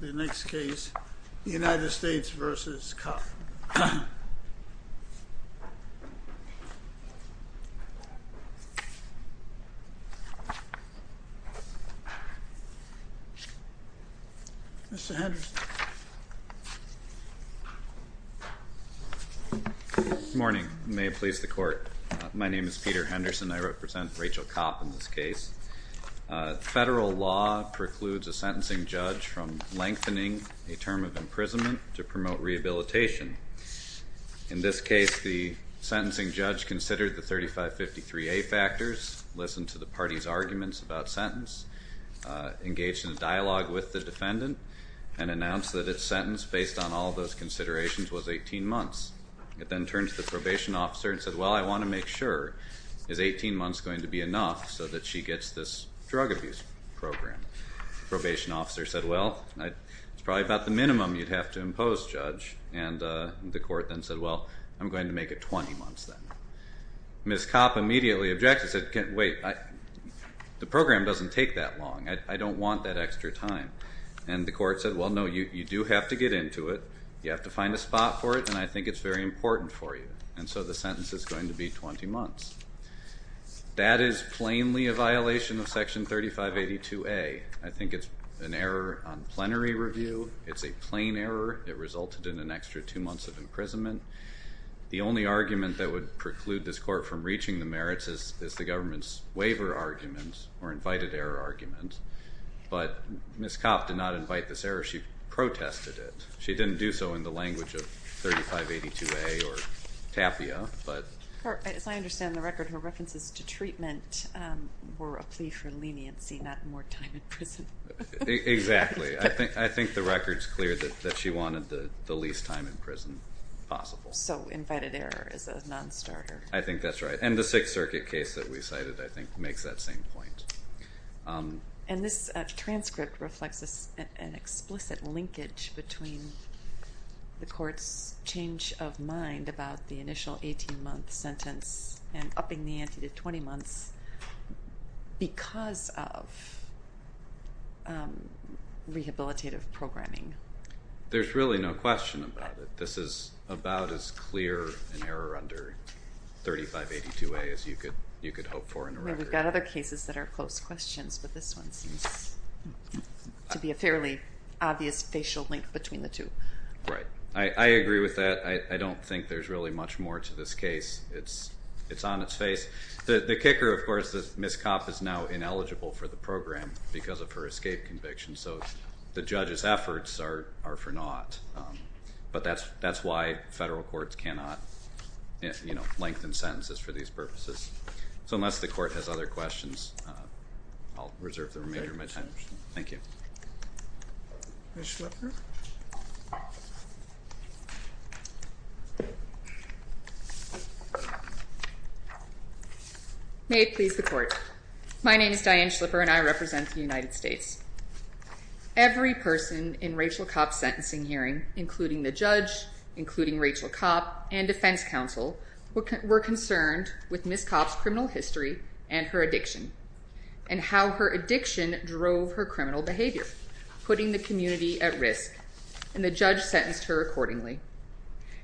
The next case, United States v. Kopp. Mr. Henderson. Good morning. May it please the Court. My name is Peter Henderson. I represent Rachel Kopp in this case. Federal law precludes a sentencing judge from lengthening a term of imprisonment to promote rehabilitation. In this case, the sentencing judge considered the 3553A factors, listened to the party's arguments about sentence, engaged in a dialogue with the defendant, and announced that its sentence, based on all those considerations, was 18 months. It then turned to the probation officer and said, well, I want to make sure. Is 18 months going to be enough so that she gets this drug abuse program? The probation officer said, well, it's probably about the minimum you'd have to impose, Judge. And the court then said, well, I'm going to make it 20 months then. Ms. Kopp immediately objected, said, wait, the program doesn't take that long. I don't want that extra time. And the court said, well, no, you do have to get into it. You have to find a spot for it. And I think it's very important for you. And so the sentence is going to be 20 months. That is plainly a violation of Section 3582A. I think it's an error on plenary review. It's a plain error. It resulted in an extra two months of imprisonment. The only argument that would preclude this court from reaching the merits is the government's waiver argument or invited error argument. But Ms. Kopp did not invite this error. She protested it. She didn't do so in the language of 3582A or TAPIA. As I understand the record, her references to treatment were a plea for leniency, not more time in prison. Exactly. I think the record's clear that she wanted the least time in prison possible. So invited error is a nonstarter. I think that's right. And the Sixth Circuit case that we cited, I think, makes that same point. And this transcript reflects an explicit linkage between the court's change of mind about the initial 18-month sentence and upping the ante to 20 months because of rehabilitative programming. There's really no question about it. This is about as clear an error under 3582A as you could hope for in the record. We've got other cases that are close questions, but this one seems to be a fairly obvious facial link between the two. Right. I agree with that. I don't think there's really much more to this case. It's on its face. The kicker, of course, is Ms. Kopp is now ineligible for the program because of her escape conviction. So the judge's efforts are for naught. But that's why federal courts cannot lengthen sentences for these purposes. So unless the court has other questions, I'll reserve the remainder of my time. Thank you. Ms. Schlipper. May it please the court. My name is Diane Schlipper, and I represent the United States. Every person in Rachel Kopp's sentencing hearing, including the judge, including Rachel Kopp, and defense counsel, were concerned with Ms. Kopp's criminal history and her addiction and how her addiction drove her criminal behavior, putting the community at risk, and the judge sentenced her accordingly.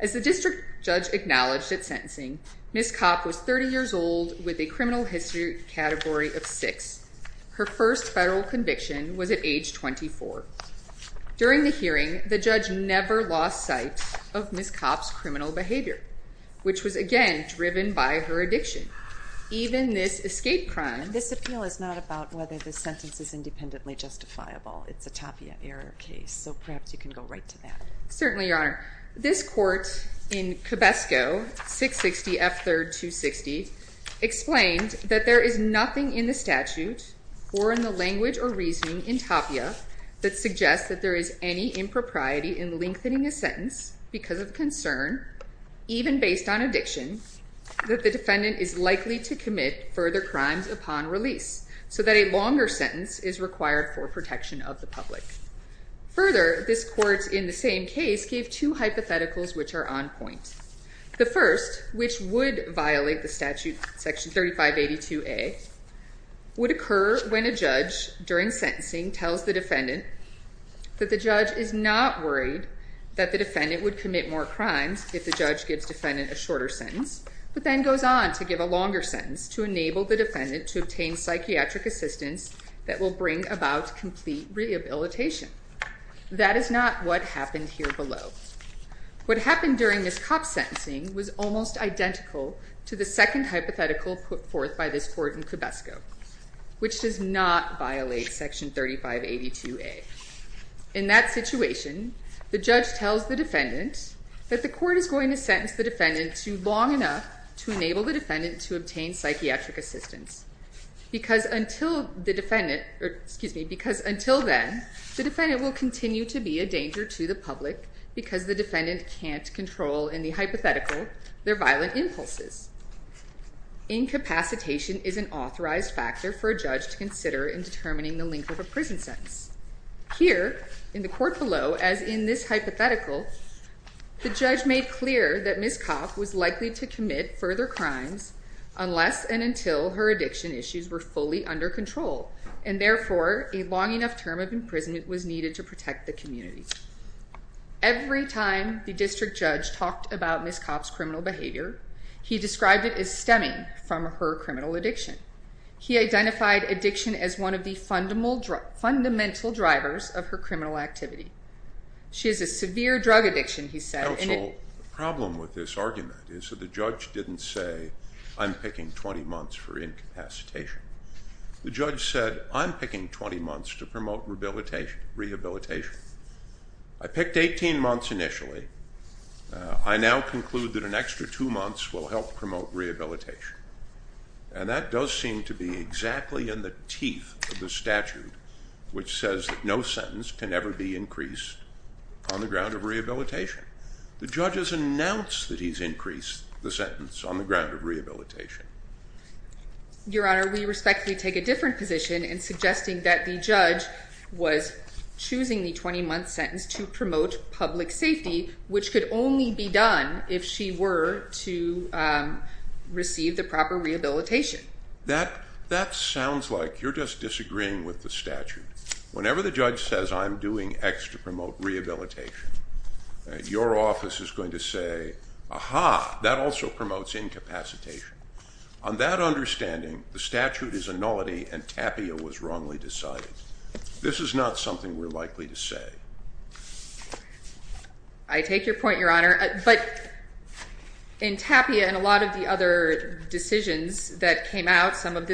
As the district judge acknowledged at sentencing, Ms. Kopp was 30 years old with a criminal history category of six. Her first federal conviction was at age 24. During the hearing, the judge never lost sight of Ms. Kopp's criminal behavior, which was, again, driven by her addiction. Even this escape crime. This appeal is not about whether the sentence is independently justifiable. It's a Tapia error case. So perhaps you can go right to that. Certainly, Your Honor. This court in Cabesco, 660 F. 3rd, 260, explained that there is nothing in the statute or in the language or reasoning in Tapia that suggests that there is any impropriety in lengthening a sentence because of concern, even based on addiction, that the defendant is likely to commit further crimes upon release, so that a longer sentence is required for protection of the public. Further, this court, in the same case, gave two hypotheticals which are on point. The first, which would violate the statute, Section 3582A, would occur when a judge, during sentencing, tells the defendant that the judge is not worried that the defendant would commit more crimes if the judge gives the defendant a shorter sentence, but then goes on to give a longer sentence to enable the defendant to obtain psychiatric assistance that will bring about complete rehabilitation. That is not what happened here below. What happened during Ms. Kopp's sentencing was almost identical to the second hypothetical put forth by this court in Cabesco, which does not violate Section 3582A. In that situation, the judge tells the defendant that the court is going to sentence the defendant to long enough to enable the defendant to obtain psychiatric assistance, because until then, the defendant will continue to be a danger to the public because the defendant can't control, in the hypothetical, their violent impulses. Incapacitation is an authorized factor for a judge to consider in determining the length of a prison sentence. Here, in the court below, as in this hypothetical, the judge made clear that Ms. Kopp was likely to commit further crimes unless and until her addiction issues were fully under control, and therefore, a long enough term of imprisonment was needed to protect the community. Every time the district judge talked about Ms. Kopp's criminal behavior, he described it as stemming from her criminal addiction. He identified addiction as one of the fundamental drivers of her criminal activity. She has a severe drug addiction, he said. Counsel, the problem with this argument is that the judge didn't say, I'm picking 20 months for incapacitation. The judge said, I'm picking 20 months to promote rehabilitation. I picked 18 months initially. I now conclude that an extra two months will help promote rehabilitation. And that does seem to be exactly in the teeth of the statute, which says that no sentence can ever be increased on the ground of rehabilitation. The judge has announced that he's increased the sentence on the ground of rehabilitation. Your Honor, we respectfully take a different position in suggesting that the judge was choosing the 20-month sentence to promote public safety, which could only be done if she were to receive the proper rehabilitation. That sounds like you're just disagreeing with the statute. Whenever the judge says, I'm doing X to promote rehabilitation, your office is going to say, aha, that also promotes incapacitation. On that understanding, the statute is a nullity and Tapia was wrongly decided. This is not something we're likely to say. I take your point, Your Honor. But in Tapia and a lot of the other decisions that came out of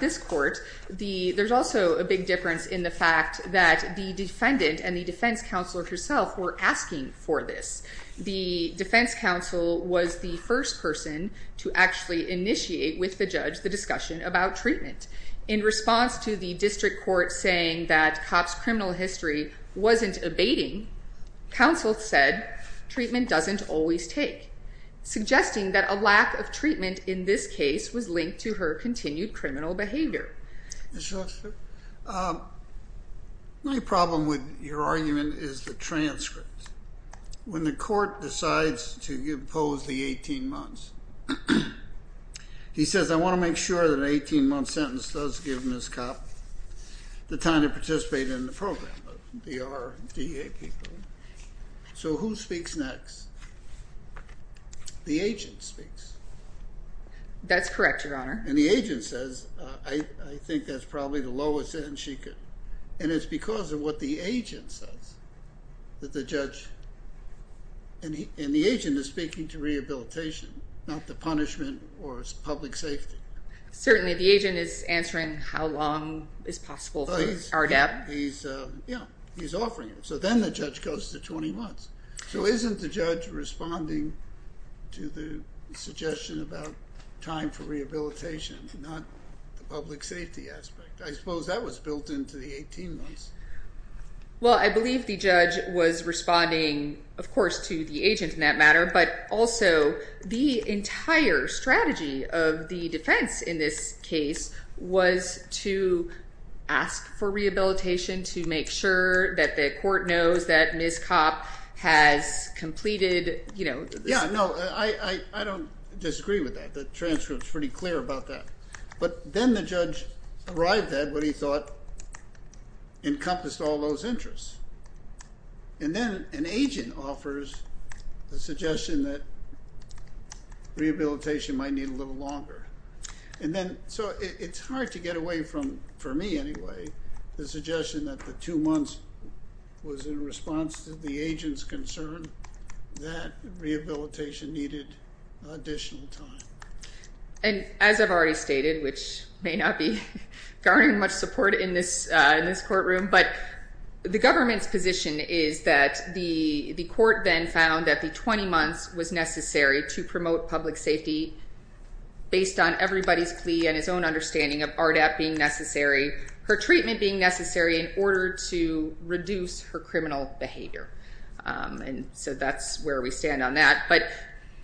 this court, there's also a big difference in the fact that the defendant and the defense counselor herself were asking for this. The defense counsel was the first person to actually initiate with the judge the discussion about treatment. In response to the district court saying that Copp's criminal history wasn't abating, counsel said treatment doesn't always take, suggesting that a lack of treatment in this case was linked to her continued criminal behavior. My problem with your argument is the transcript. When the court decides to impose the 18 months, he says, I want to make sure that an 18-month sentence does give Ms. Copp the time to participate in the program. So who speaks next? The agent speaks. That's correct, Your Honor. And the agent says, I think that's probably the lowest end she could. And it's because of what the agent says that the judge, and the agent is speaking to rehabilitation, not the punishment or public safety. Certainly. The agent is answering how long is possible for RDAP. He's offering it. So then the judge goes to 20 months. So isn't the judge responding to the suggestion about time for rehabilitation, not the public safety aspect? I suppose that was built into the 18 months. Well, I believe the judge was responding, of course, to the agent in that matter, but also the entire strategy of the defense in this case was to ask for rehabilitation, to make sure that the court knows that Ms. Copp has completed, you know. Yeah, no, I don't disagree with that. The transcript's pretty clear about that. But then the judge arrived at what he thought encompassed all those interests. And then an agent offers the suggestion that rehabilitation might need a little longer. And then, so it's hard to get away from, for me anyway, the suggestion that the two months was in response to the agent's concern that rehabilitation needed additional time. And as I've already stated, which may not be garnering much support in this courtroom, but the government's position is that the court then found that the 20 months was necessary to promote public safety based on everybody's plea and his own understanding of RDAP being necessary, her treatment being necessary in order to reduce her criminal behavior. And so that's where we stand on that. But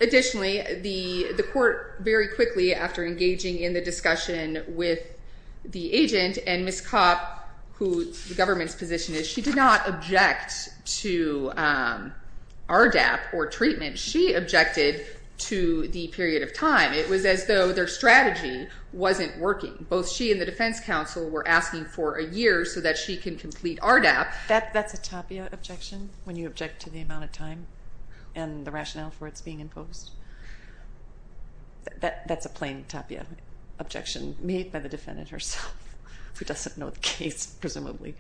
additionally, the court very quickly, after engaging in the discussion with the agent and Ms. Copp, who the government's position is, she did not object to RDAP or treatment. She objected to the period of time. It was as though their strategy wasn't working. Both she and the defense counsel were asking for a year so that she can complete RDAP. That's a tapia objection when you object to the amount of time and the rationale for its being imposed? That's a plain tapia objection made by the defendant herself, who doesn't know the case, presumably.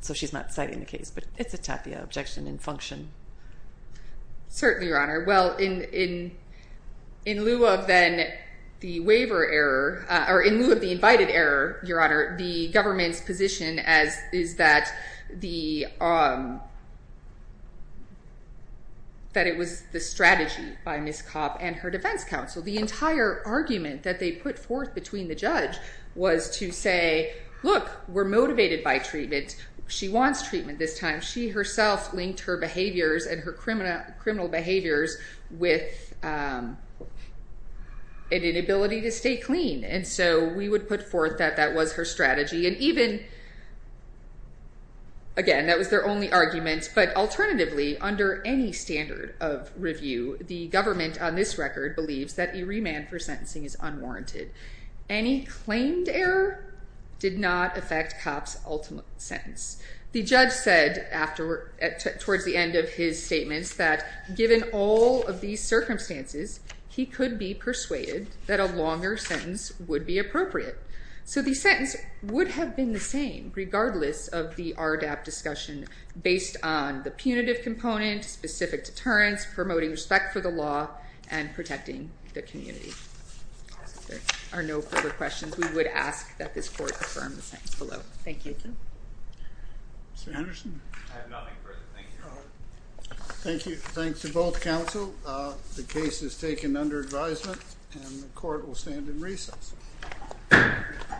So she's not citing the case, but it's a tapia objection in function. Certainly, Your Honor. Well, in lieu of then the waiver error, or in lieu of the invited error, Your Honor, the government's position is that it was the strategy by Ms. Copp and her defense counsel. The entire argument that they put forth between the judge was to say, look, we're motivated by treatment. She wants treatment this time. She herself linked her behaviors and her criminal behaviors with an inability to stay clean. And so we would put forth that that was her strategy. And even, again, that was their only argument. But alternatively, under any standard of review, the government on this record believes that a remand for sentencing is unwarranted. Any claimed error did not affect Copp's ultimate sentence. The judge said towards the end of his statements that given all of these circumstances, he could be persuaded that a longer sentence would be appropriate. So the sentence would have been the same, regardless of the RDAP discussion, based on the punitive component, specific deterrence, promoting respect for the law, and protecting the community. If there are no further questions, we would ask that this court affirm the sentence below. Thank you. Mr. Anderson? I have nothing further. Thank you. Thank you. Thanks to both counsel. The case is taken under advisement, and the court will stand in recess. Thank you.